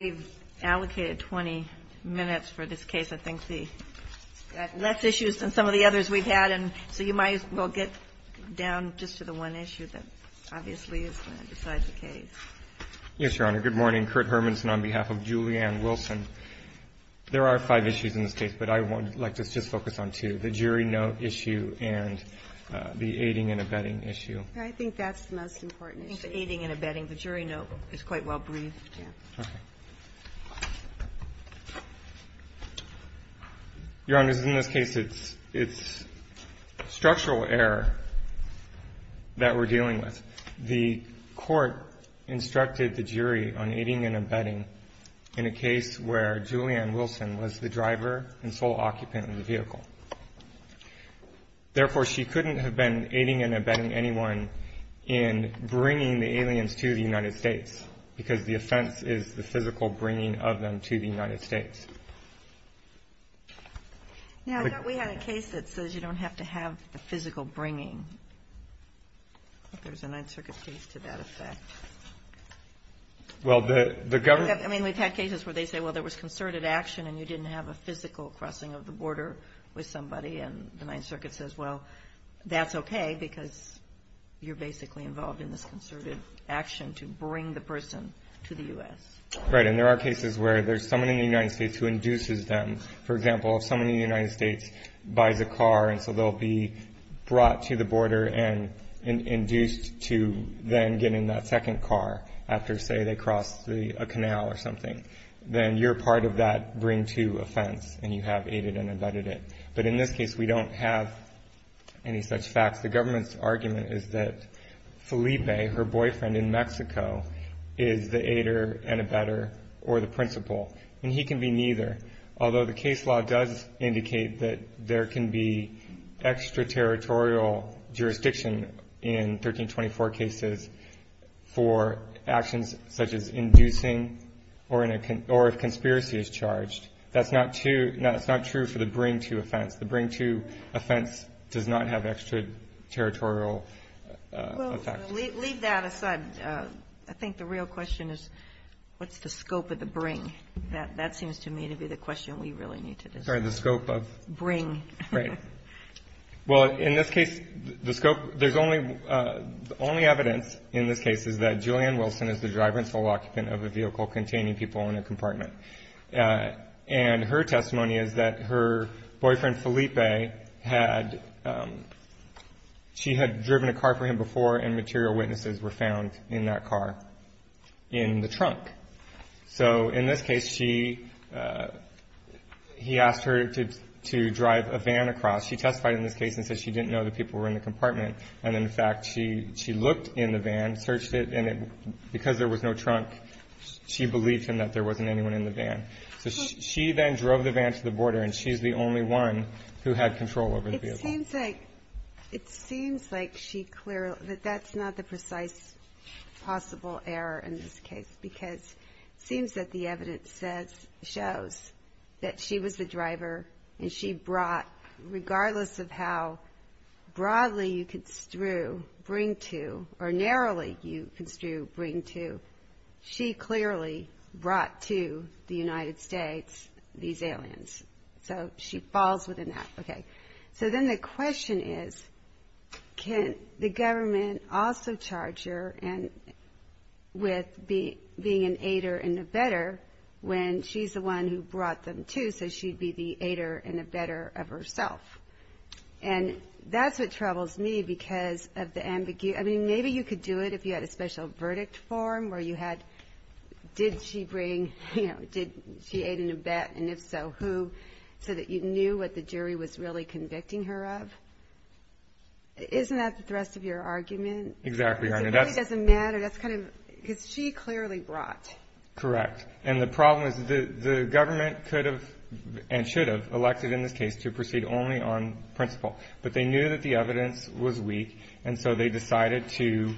We've allocated 20 minutes for this case. I think we've got less issues than some of the others we've had, and so you might as well get down just to the one issue that obviously is going to decide the case. Yes, Your Honor. Good morning. Kurt Hermanson on behalf of Julianne Wilson. There are five issues in this case, but I would like to just focus on two, the jury note issue and the aiding and abetting issue. I think that's the most important issue. I think the aiding and abetting, the jury note, is quite well briefed. Your Honor, in this case, it's structural error that we're dealing with. The court instructed the jury on aiding and abetting in a case where Julianne Wilson was the driver and sole occupant of the vehicle. Therefore she couldn't have been aiding and abetting anyone in bringing the aliens to the United States because the offense is the physical bringing of them to the United States. Now, I thought we had a case that says you don't have to have a physical bringing. I think there's a Ninth Circuit case to that effect. Well, the government We've had cases where they say, well, there was concerted action and you didn't have a physical crossing of the border with somebody, and the Ninth Circuit says, well, that's okay because you're basically involved in this action to bring the person to the U.S. Right. And there are cases where there's someone in the United States who induces them. For example, if someone in the United States buys a car and so they'll be brought to the border and induced to then get in that second car after, say, they cross a canal or something, then you're part of that bring-to offense, and you have aided and abetted it. But in this case, we don't have any such facts. The government's argument is that Felipe, her boyfriend in Mexico, is the aider and abetter or the principal, and he can be neither, although the case law does indicate that there can be extraterritorial jurisdiction in 1324 cases for actions such as inducing or if conspiracy is charged. That's not true for the bring-to offense. The bring-to offense does not have extraterritorial effect. Leave that aside. I think the real question is what's the scope of the bring? That seems to me to be the question we really need to discuss. Sorry, the scope of? Bring. Right. Well, in this case, the scope, there's only evidence in this case is that Julianne Wilson is the driver and sole occupant of a vehicle containing people in a compartment. And her testimony is that her boyfriend, Felipe, had, she had driven a car for him before, and material witnesses were found in that car in the trunk. So in this case, she, he asked her to drive a van across. She testified in this case and said she didn't know the people were in the compartment, and in fact, she looked in the van, searched it, and because there was no trunk, she believed him that there wasn't anyone in the van. So she then drove the van to the border, and she's the only one who had control over the vehicle. It seems like she clearly, that that's not the precise possible error in this case, because it seems that the evidence says, shows that she was the driver and she brought, regardless of how broadly you construe bring-to or narrowly you construe, she clearly brought to the United States these aliens. So she falls within that. Okay. So then the question is, can the government also charge her with being an aider and abettor when she's the one who brought them to, so she'd be the aider and abettor of herself? And that's what troubles me because of the ambiguity, I mean, maybe you could do it if you had a special verdict form where you had, did she bring, you know, did she aid and abett, and if so, who, so that you knew what the jury was really convicting her of? Isn't that the thrust of your argument? Exactly, Your Honor. It really doesn't matter, that's kind of, because she clearly brought. Correct. And the problem is the government could have and should have elected in this case to proceed only on principle, but they knew that the evidence was weak, and so they decided to,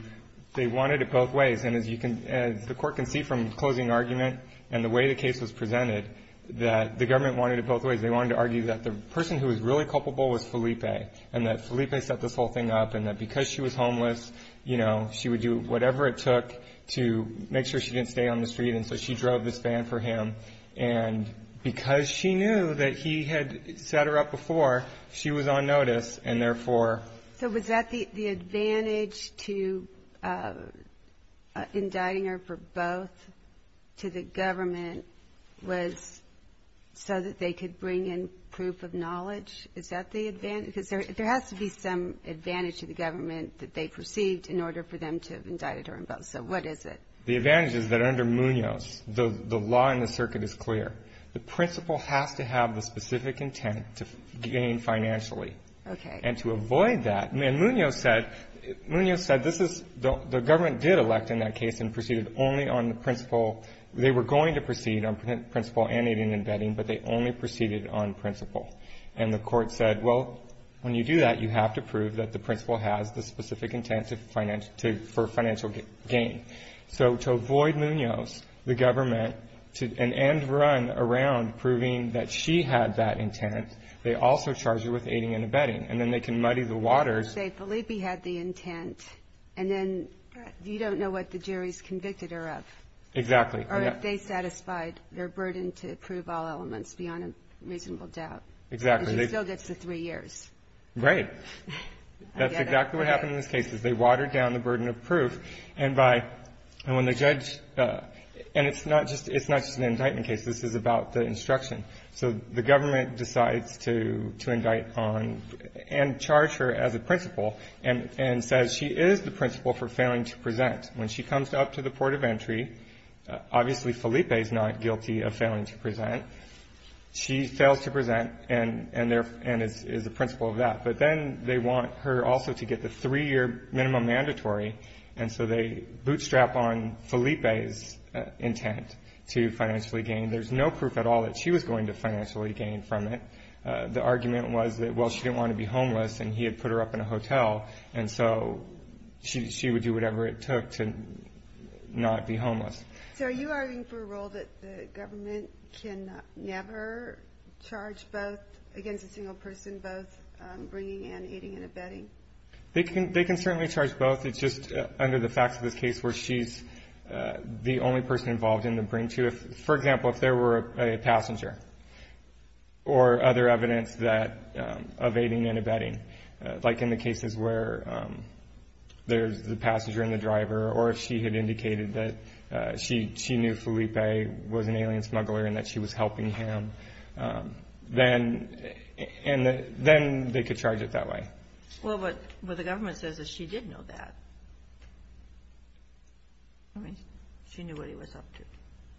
they wanted it both ways. And as you can, as the Court can see from the closing argument and the way the case was presented, that the government wanted it both ways. They wanted to argue that the person who was really culpable was Felipe, and that Felipe set this whole thing up, and that because she was homeless, you know, she would do whatever it took to make sure she didn't stay on the street, and so she drove this van for him. And because she knew that he had set her up before, she was on notice, and therefore So was that the advantage to indicting her for both to the government was so that they could bring in proof of knowledge? Is that the advantage? Because there has to be some advantage to the government that they perceived in order for them to have indicted her in both, so what is it? The advantage is that under Munoz, the law in the circuit is clear. The principle has to have the specific intent to gain financially. Okay. And to avoid that, and Munoz said, Munoz said this is, the government did elect in that case and proceeded only on the principle, they were going to proceed on principle and aiding and abetting, but they only proceeded on principle. And the court said, well, when you do that, you have to prove that the principle has the specific intent for financial gain. So to avoid Munoz, the government, and run around proving that she had that intent, they also charged her with aiding and abetting. And then they can muddy the waters. Say Felipe had the intent, and then you don't know what the jury's convicted her of. Exactly. Or if they satisfied their burden to prove all elements beyond a reasonable doubt. Exactly. And she still gets the three years. Right. That's exactly what happened in this case, is they watered down the burden of proof. And when the judge, and it's not just an indictment case, this is about the instruction. So the government decides to indict on, and charge her as a principle, and says she is the principle for failing to present. When she comes up to the port of entry, obviously, Felipe's not guilty of failing to present. She fails to present, and is the principle of that. But then they want her also to get the three year minimum mandatory. And so they bootstrap on Felipe's intent to financially gain. There's no proof at all that she was going to financially gain from it. The argument was that, well, she didn't want to be homeless, and he had put her up in a hotel. And so she would do whatever it took to not be homeless. So are you arguing for a role that the government can never charge both, against a single person, both bringing in, aiding and abetting? They can certainly charge both. It's just under the facts of this case where she's the only person involved in the bring to. For example, if there were a passenger, or other evidence of aiding and abetting, like in the cases where there's the passenger and the driver, or if she had indicated that she knew Felipe was an alien smuggler, and that she was helping him, then they could charge it that way. Well, what the government says is she did know that. She knew what he was up to.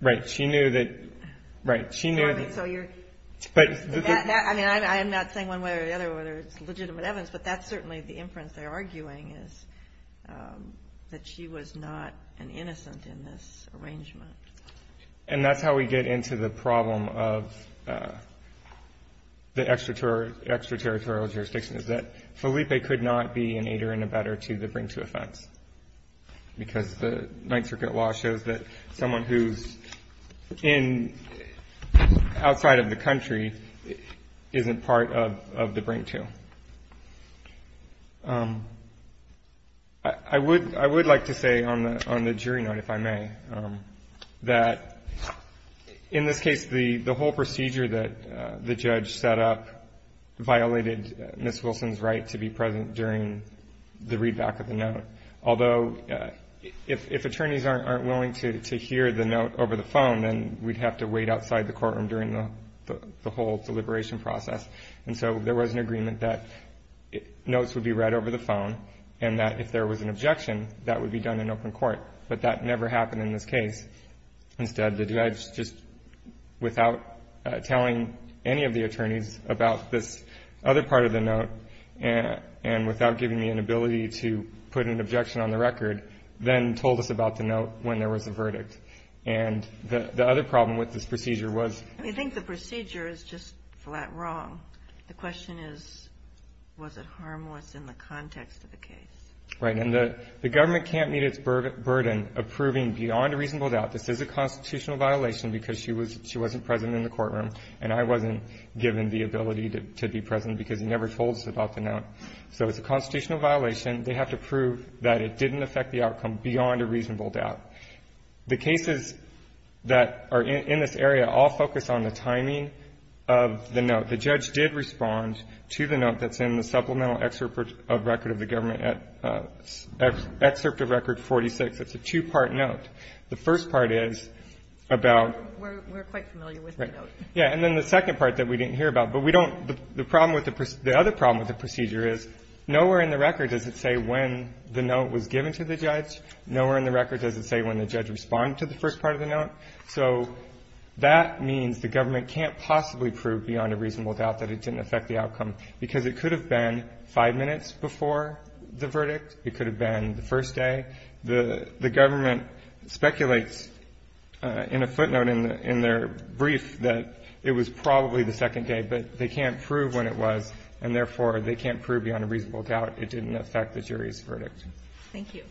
Right, she knew that, right, she knew that. So you're, I mean, I'm not saying one way or the other whether it's legitimate evidence, but that's certainly the inference they're arguing, is that she was not an innocent in this arrangement. And that's how we get into the problem of the extraterritorial jurisdiction, is that Felipe could not be an aider and abetter to the bring to offense. Because the Ninth Circuit law shows that someone who's in, outside of the country, isn't part of the bring to. I would like to say on the jury note, if I may, that in this case, the whole procedure that the judge set up violated Ms. Although, if attorneys aren't willing to hear the note over the phone, then we'd have to wait outside the courtroom during the whole deliberation process. And so there was an agreement that notes would be read over the phone, and that if there was an objection, that would be done in open court. But that never happened in this case. Instead, the judge just, without telling any of the attorneys about this other part of the note, and without giving me an ability to put an objection on the record, then told us about the note when there was a verdict. And the other problem with this procedure was- I think the procedure is just flat wrong. The question is, was it harmless in the context of the case? Right, and the government can't meet its burden of proving beyond a reasonable doubt this is a constitutional violation because she wasn't present in the courtroom. And I wasn't given the ability to be present because he never told us about the note. So it's a constitutional violation. They have to prove that it didn't affect the outcome beyond a reasonable doubt. The cases that are in this area all focus on the timing of the note. The judge did respond to the note that's in the supplemental excerpt of record of the government, excerpt of record 46. It's a two-part note. The first part is about- We're quite familiar with the note. Yeah, and then the second part that we didn't hear about. But we don't- the problem with the- the other problem with the procedure is nowhere in the record does it say when the note was given to the judge. Nowhere in the record does it say when the judge responded to the first part of the note. So that means the government can't possibly prove beyond a reasonable doubt that it didn't affect the outcome because it could have been five minutes before the verdict. It could have been the first day. The government speculates in a footnote in their brief that it was probably the second day, but they can't prove when it was, and therefore, they can't prove beyond a reasonable doubt it didn't affect the jury's verdict. Thank you.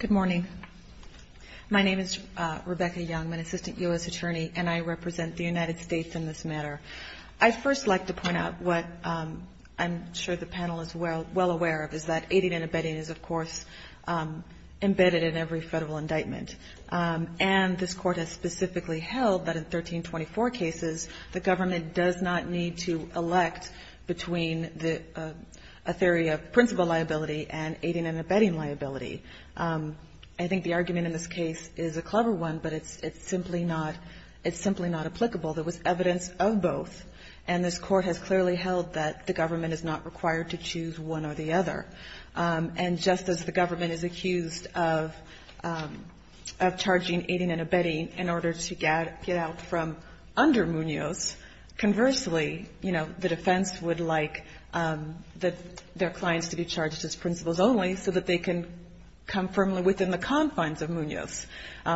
Good morning. My name is Rebecca Youngman, Assistant U.S. Attorney, and I represent the United States in this matter. I'd first like to point out what I'm sure the panel is well aware of, is that aiding and abetting is, of course, embedded in every federal indictment. And this Court has specifically held that in 1324 cases, the government does not need to elect between a theory of principal liability and aiding and abetting liability. I think the argument in this case is a clever one, but it's simply not- it's simply not applicable. There was evidence of both, and this Court has clearly held that the government is not required to choose one or the other. And just as the government is accused of charging aiding and abetting in order to get out from under Munoz, conversely, you know, the defense would like their clients to be charged as principals only so that they can come firmly within the confines of Munoz.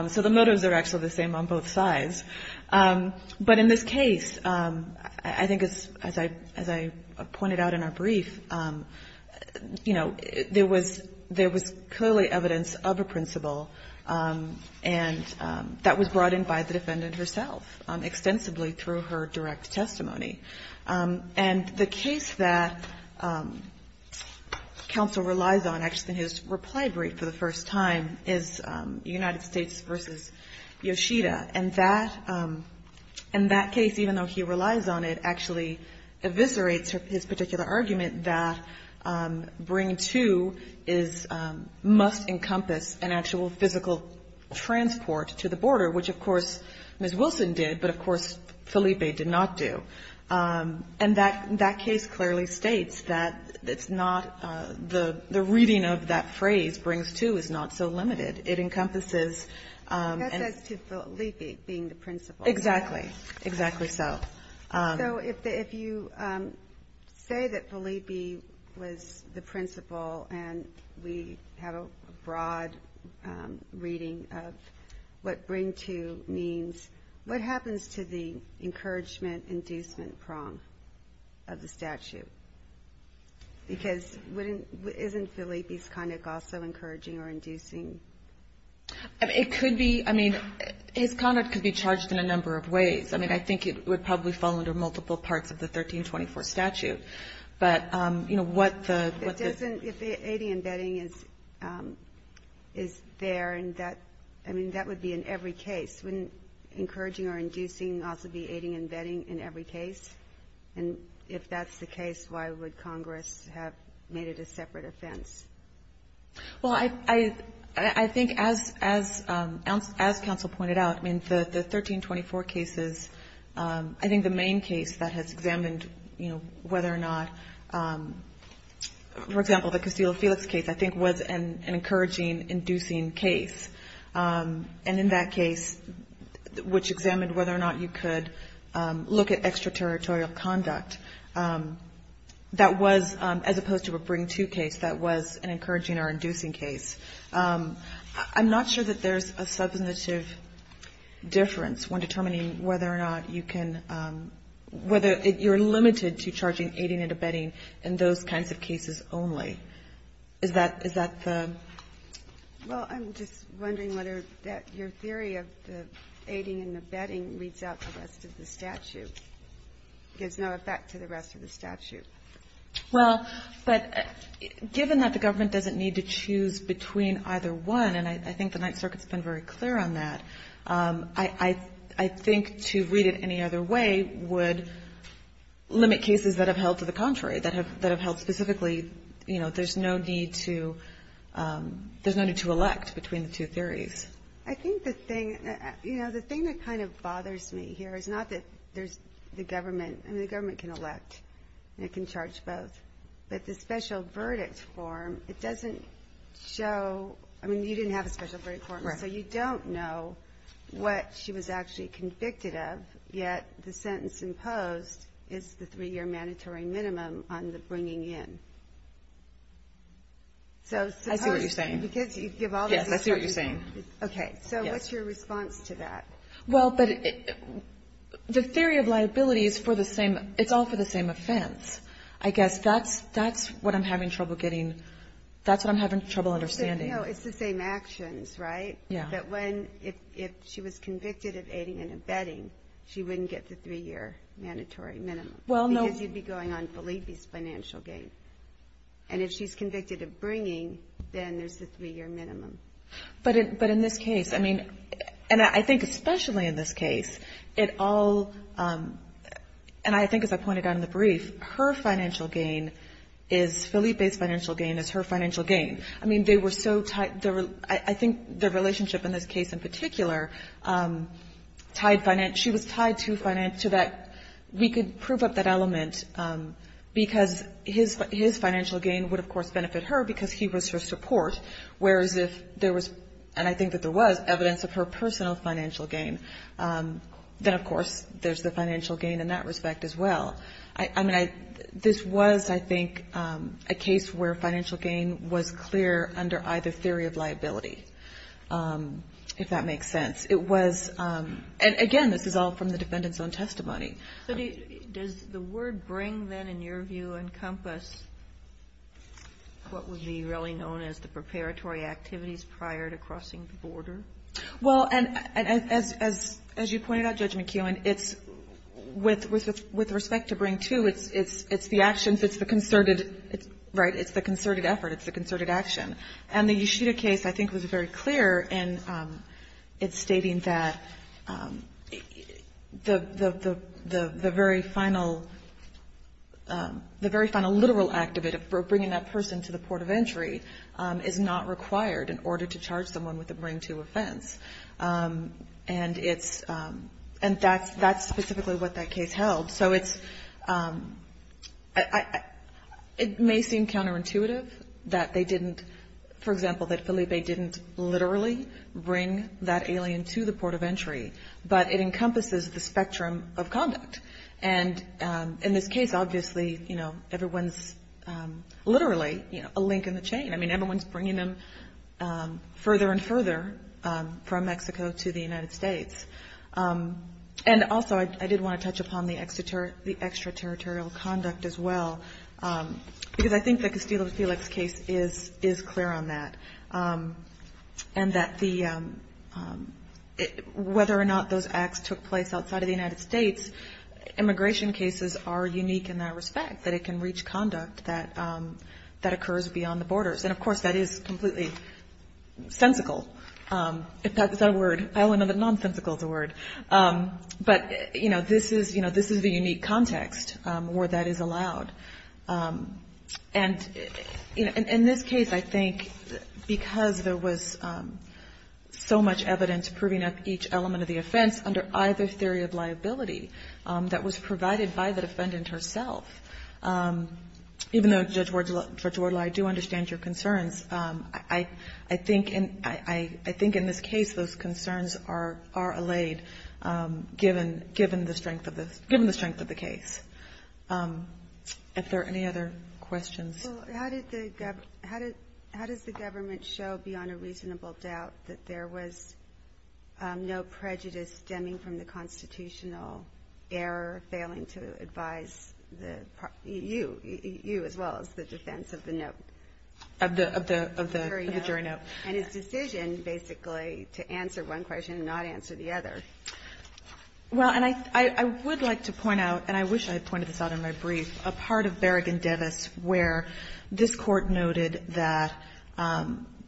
So the motives are actually the same on both sides. But in this case, I think as I pointed out in our brief, you know, there was clearly evidence of a principal, and that was brought in by the defendant herself extensively through her direct testimony. And the case that counsel relies on actually in his reply brief for the first time is United States versus Yoshida. And that case, even though he relies on it, actually eviscerates his particular argument that bring to must encompass an actual physical transport to the border, which, of course, Ms. Wilson did, but of course, Felipe did not do. And that case clearly states that it's not the reading of that phrase, brings to, is not so limited. It encompasses. That says to Felipe being the principal. Exactly. Exactly so. So if you say that Felipe was the principal and we have a broad reading of what bring to means, what happens to the encouragement, inducement prong of the statute? Because wouldn't, isn't Felipe's conduct also encouraging or inducing? It could be. I mean, his conduct could be charged in a number of ways. I mean, I think it would probably fall under multiple parts of the 1324 statute. But, you know, what the, what the. It doesn't, if the aiding and abetting is, is there and that, I mean, that would be in every case. Wouldn't encouraging or inducing also be aiding and abetting in every case? And if that's the case, why would Congress have made it a separate offense? Well, I, I think as, as, as counsel pointed out, I mean, the 1324 cases, I think the main case that has examined, you know, whether or not, for example, the Castillo- Felix case, I think was an encouraging, inducing case. And in that case, which examined whether or not you could look at extraterritorial conduct, that was, as opposed to a bring-to case, that was an encouraging or inducing case. I'm not sure that there's a substantive difference when determining whether or not you can, whether you're limited to charging aiding and abetting in those kinds of cases only. Is that, is that the. Well, I'm just wondering whether that, your theory of the aiding and abetting reads out the rest of the statute, gives no effect to the rest of the statute. Well, but given that the government doesn't need to choose between either one, and I, I think the Ninth Circuit's been very clear on that, I, I, I think to read it any other way would limit cases that have held to the contrary, that have, that have held specifically, you know, there's no need to, there's no need to elect between the two theories. I think the thing, you know, the thing that kind of bothers me here is not that there's the government, I mean, the government can elect and it can charge both, but the special verdict form, it doesn't show, I mean, you didn't have a special verdict form, so you don't know what she was actually convicted of, yet the government is putting in. So, suppose. I see what you're saying. Because you give all the. Yes, I see what you're saying. Okay. Yes. So what's your response to that? Well, but the theory of liability is for the same, it's all for the same offense. I guess that's, that's what I'm having trouble getting, that's what I'm having trouble understanding. No, it's the same actions, right? Yeah. But when, if, if she was convicted of aiding and abetting, she wouldn't get the three-year mandatory minimum. Well, no. Because you'd be going on Felipe's financial gain. And if she's convicted of bringing, then there's the three-year minimum. But, but in this case, I mean, and I think especially in this case, it all, and I think, as I pointed out in the brief, her financial gain is Felipe's financial gain is her financial gain. I mean, they were so tight. I think their relationship in this case in particular, tied finance, she was tied to finance, to that, we could prove up that element because his, his financial gain would of course benefit her because he was her support. Whereas if there was, and I think that there was evidence of her personal financial gain, then of course there's the financial gain in that respect as well. I mean, I, this was, I think a case where financial gain was clear under either theory of liability, if that makes sense. It was, and again, this is all from the defendant's own testimony. So does the word bring then in your view encompass what would be really known as the preparatory activities prior to crossing the border? Well, and as, as, as you pointed out, Judge McKeown, it's with, with, with respect to bring too, it's, it's, it's the actions, it's the concerted, right? It's the concerted effort. It's the concerted action. And the Yoshida case, I think was very clear and it's stating that the, the, the, the, the very final, the very final literal act of it, of bringing that person to the port of entry is not required in order to charge someone with a bring too offense. And it's, and that's, that's specifically what that case held. So it's, I, I, it may seem counterintuitive that they didn't, for example, that Felipe didn't literally bring that alien to the port of entry, but it encompasses the spectrum of conduct. And in this case, obviously, you know, everyone's literally, you know, a link in the chain. I mean, everyone's bringing them further and further from Mexico to the United States. And also I did want to touch upon the extraterritorial conduct as well. Because I think the Castillo-Felix case is, is clear on that. And that the, whether or not those acts took place outside of the United States, immigration cases are unique in that respect, that it can reach conduct that, that occurs beyond the borders. And of course that is completely sensical. If that's a word, I only know that nonsensical is a word. But, you know, this is, you know, this is the unique context where that is allowed. And in this case, I think because there was so much evidence proving up each element of the offense under either theory of liability that was provided by the defendant herself, even though Judge Wardle, Judge Wardle, I do understand your concerns. I, I think in, I, I think in this case, those concerns are, are allayed given, given the strength of the, given the strength of the case. If there are any other questions. Well, how did the, how did, how does the government show beyond a reasonable doubt that there was no prejudice stemming from the constitutional error, failing to advise the, you, you as well as the defense of the note? Of the, of the, of the jury note. And his decision basically to answer one question and not answer the other. Well, and I, I, I would like to point out, and I wish I had pointed this out in my brief, a part of Berrigan-Devis where this court noted that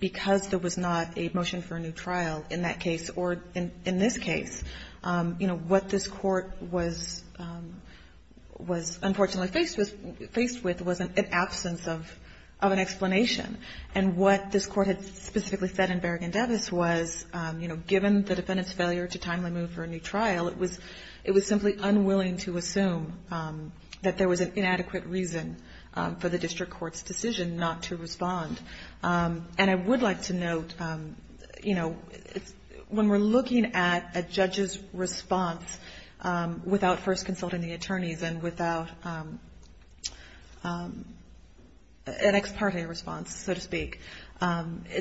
because there was not a motion for a new trial in that case or in, in this case, you know, what this court was, was unfortunately faced with, faced with was an absence of, of an explanation. And what this court had specifically said in Berrigan-Devis was, you know, given the defendant's failure to timely move for a new trial, it was, it was simply unwilling to assume that there was an inadequate reason for the district court's decision not to respond. And I would like to note, you know, it's, when we're looking at a judge's response without first consulting the attorneys and without an ex parte response, so to speak,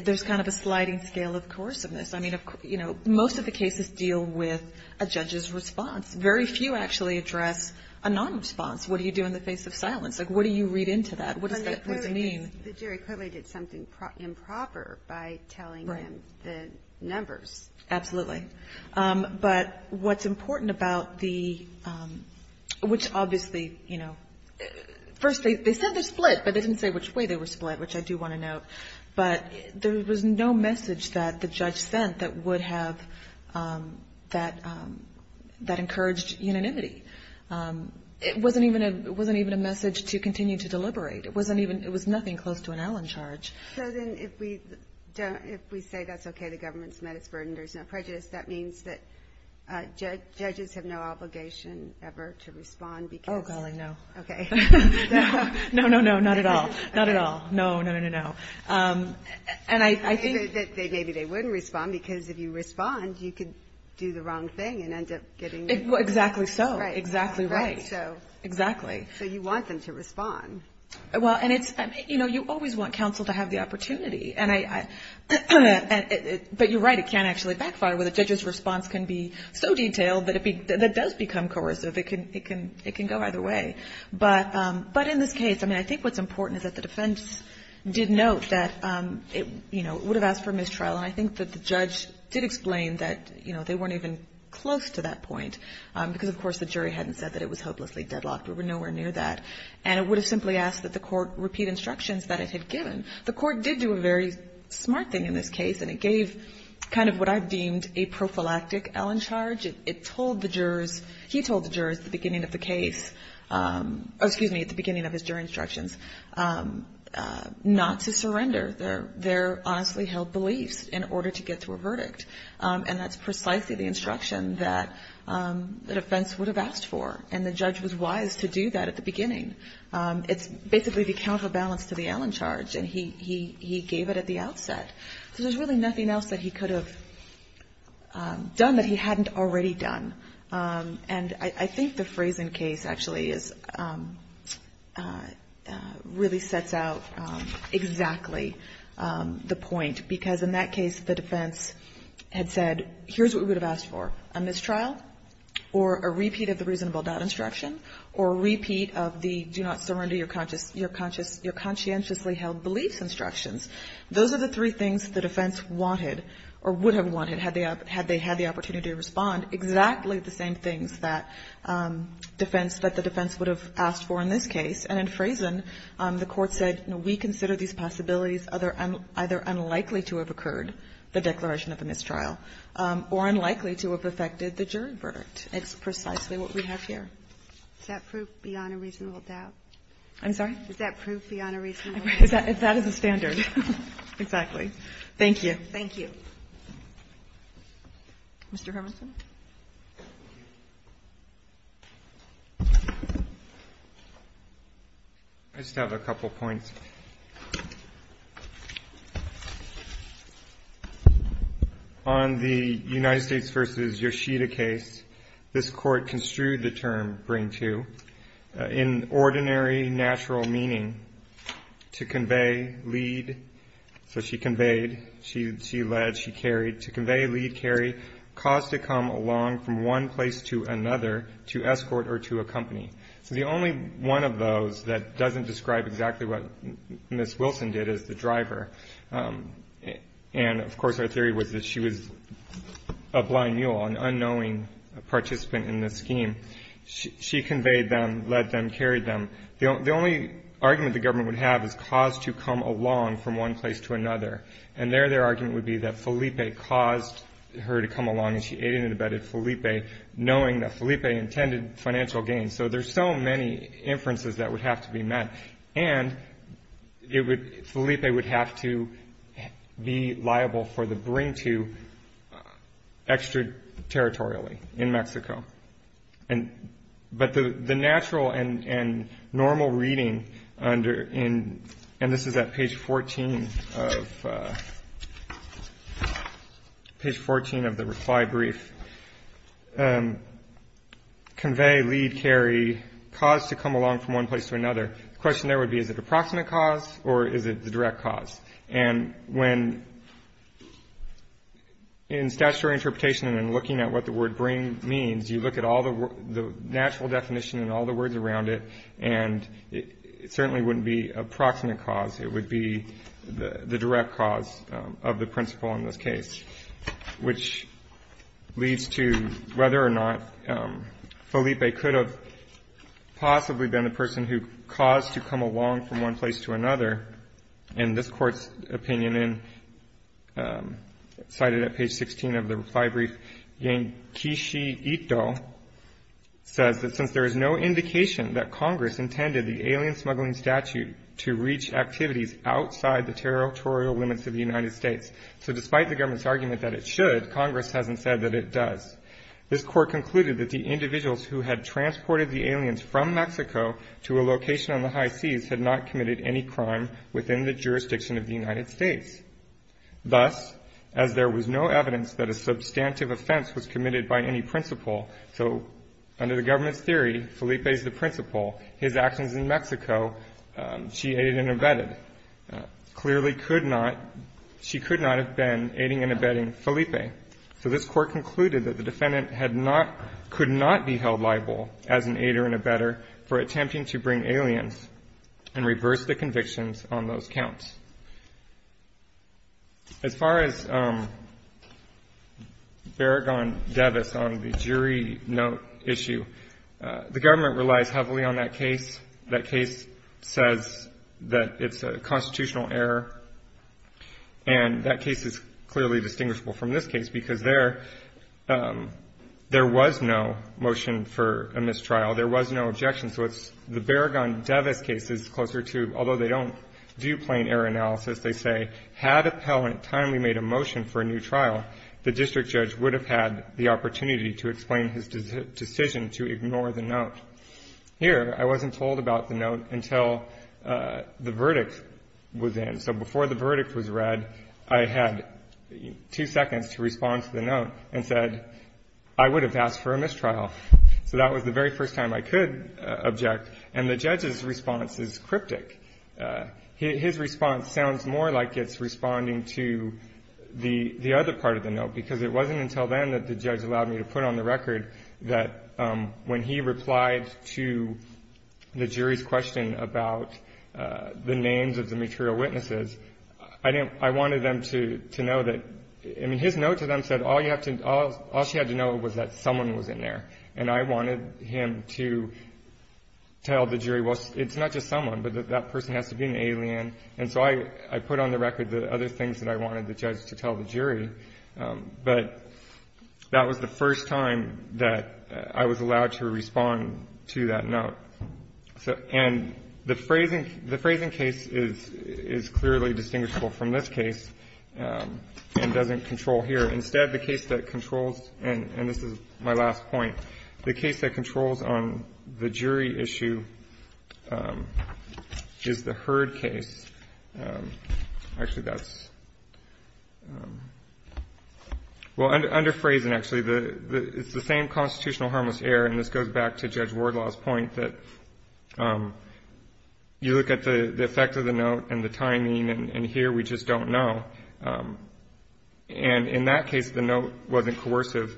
there's kind of a sliding scale of coerciveness. I mean, you know, most of the cases deal with a judge's response. Very few actually address a non-response. What do you do in the face of silence? Like, what do you read into that? What does that mean? The jury clearly did something improper by telling them the numbers. Absolutely. But what's important about the, which obviously, you know, first they said they're split, but they didn't say which way they were split, which I do want to note, but there was no message that the judge sent that would have, that, that encouraged unanimity. It wasn't even a, it wasn't even a message to continue to deliberate. It wasn't even, it was nothing close to an Allen charge. So then if we don't, if we say that's okay, the government's met its burden, there's no prejudice, that means that judges have no obligation ever to respond because. Oh, golly. No. Okay. No, no, no, not at all. Not at all. No, no, no, no. Um, and I, I think that they, maybe they wouldn't respond because if you respond, you could do the wrong thing and end up getting. Exactly. So exactly. Right. So exactly. So you want them to respond. Well, and it's, you know, you always want counsel to have the opportunity and I, and it, but you're right. It can actually backfire with a judge's response can be so detailed that it be, that does become coercive. It can, it can, it can go either way. But, um, but in this case, I mean, I think what's important is that the defense did note that, um, it, you know, it would have asked for mistrial. And I think that the judge did explain that, you know, they weren't even close to that point. Um, because of course the jury hadn't said that it was hopelessly deadlocked. We were nowhere near that. And it would have simply asked that the court repeat instructions that it had given. The court did do a very smart thing in this case and it gave kind of what I've deemed a prophylactic Allen charge. It told the jurors, he told the jurors at the beginning of the case, um, excuse me, at the beginning of his jury instructions, um, uh, not to surrender their, their honestly held beliefs in order to get to a verdict. Um, and that's precisely the instruction that, um, the defense would have asked for. And the judge was wise to do that at the beginning. Um, it's basically the counterbalance to the Allen charge and he, he, he gave it at the outset. So there's really nothing else that he could have, um, done that he hadn't already done. Um, and I, I think the Frazen case actually is, um, uh, uh, really sets out, um, exactly, um, the point because in that case, the defense had said, here's what we would have asked for, a mistrial or a repeat of the reasonable doubt instruction or repeat of the, do not surrender your conscious, your conscious, your conscientiously held beliefs instructions. Those are the three things the defense wanted or would have wanted had they have, had they had the opportunity to respond exactly the same things that, um, defense that the defense would have asked for in this case. And in Frazen, um, the court said, no, we consider these possibilities other, either unlikely to have occurred the declaration of a mistrial, um, or unlikely to have affected the jury verdict. It's precisely what we have here. Is that proof beyond a reasonable doubt? I'm sorry? Is that proof beyond a reasonable doubt? That is a standard. Exactly. Thank you. Thank you. Mr. Hermanson? I just have a couple points. Um, and of course our theory was that she was a blind mule, an unknowing participant in this scheme. She, she conveyed them, led them, carried them. The only argument the government would have is cause to come along from one place to another. And there, their argument would be that Felipe caused her to come along and she aided and abetted Felipe knowing that Felipe intended financial gain. So there's so many inferences that would have to be met and it would, Felipe would have to be liable for the bring to extraterritorially in Mexico. And, but the, the natural and, and normal reading under in, and this is at page 14 of, uh, page 14 of the reply brief, um, convey, lead, carry, cause to come along from one place to another. The question there would be, is it approximate cause or is it the direct cause? And when in statutory interpretation and looking at what the word bring means, you look at all the natural definition and all the words around it, and it certainly wouldn't be approximate cause. It would be the direct cause of the principle in this case, which leads to whether or not, um, Felipe could have possibly been the person who caused to come along from one place to another in this court's opinion and, um, cited at page 16 of the reply brief, Yankeeshi Ito says that since there is no indication that Congress intended the alien smuggling statute to reach activities outside the territorial limits of the United States. So despite the government's argument that it should, Congress hasn't said that it does. This court concluded that the individuals who had transported the aliens from Mexico to a location on the high seas had not committed any crime within the jurisdiction of the United States. Thus, as there was no evidence that a substantive offense was committed by any principle. So under the government's theory, Felipe is the principle. His actions in Mexico, um, she aided and abetted, uh, clearly could not, she could not have been aiding and abetting Felipe. So this court concluded that the defendant had not, could not be held liable as an aider and abetter for attempting to bring aliens and reverse the convictions on those counts. As far as, um, Barragán-Devis on the jury note issue, uh, the government relies heavily on that case. That case says that it's a constitutional error and that case is clearly distinguishable from this case because there, um, there was no motion for a mistrial. There was no objection. So it's the Barragán-Devis case is closer to, although they don't do plain error analysis, they say had appellant timely made a motion for a new trial, the district judge would have had the opportunity to explain his decision to ignore the note. Here, I wasn't told about the note until, uh, the verdict was in. So before the verdict was read, I had two seconds to respond to the note and said, I would have asked for a mistrial. So that was the very first time I could, uh, object. And the judge's response is cryptic. Uh, his response sounds more like it's responding to the, the other part of the note, because it wasn't until then that the judge allowed me to put on the record that, um, when he replied to the jury's question about, uh, the names of the material witnesses, I didn't, I wanted them to, to know that, I mean, his note to them said all you have to, all, all she had to know was that someone was in there and I wanted him to tell the jury, well, it's not just someone, but that that person has to be an alien. And so I, I put on the record the other things that I wanted the judge to tell the jury. Um, but that was the first time that I was allowed to respond to that note. So, and the phrasing, the phrasing case is, is clearly distinguishable from this case, um, and doesn't control here. Instead, the case that controls, and this is my last point, the case that controls on the jury issue, um, is the Hurd case. Um, actually that's, um, well under phrasing, actually the, the, it's the same constitutional harmless error. And this goes back to Judge Wardlaw's point that, um, you look at the effect of the note and the timing and here we just don't know. Um, and in that case, the note wasn't coercive.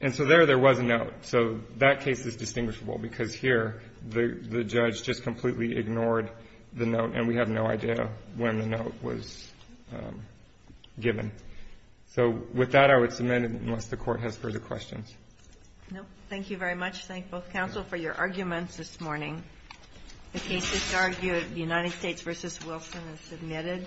And so there, there was a note. So that case is distinguishable because here the, the judge just completely ignored the note and we have no idea when the note was, um, given. So with that, I would submit it unless the court has further questions. No, thank you very much. Thank both counsel for your arguments this morning. The cases argued United States versus Wilson is submitted.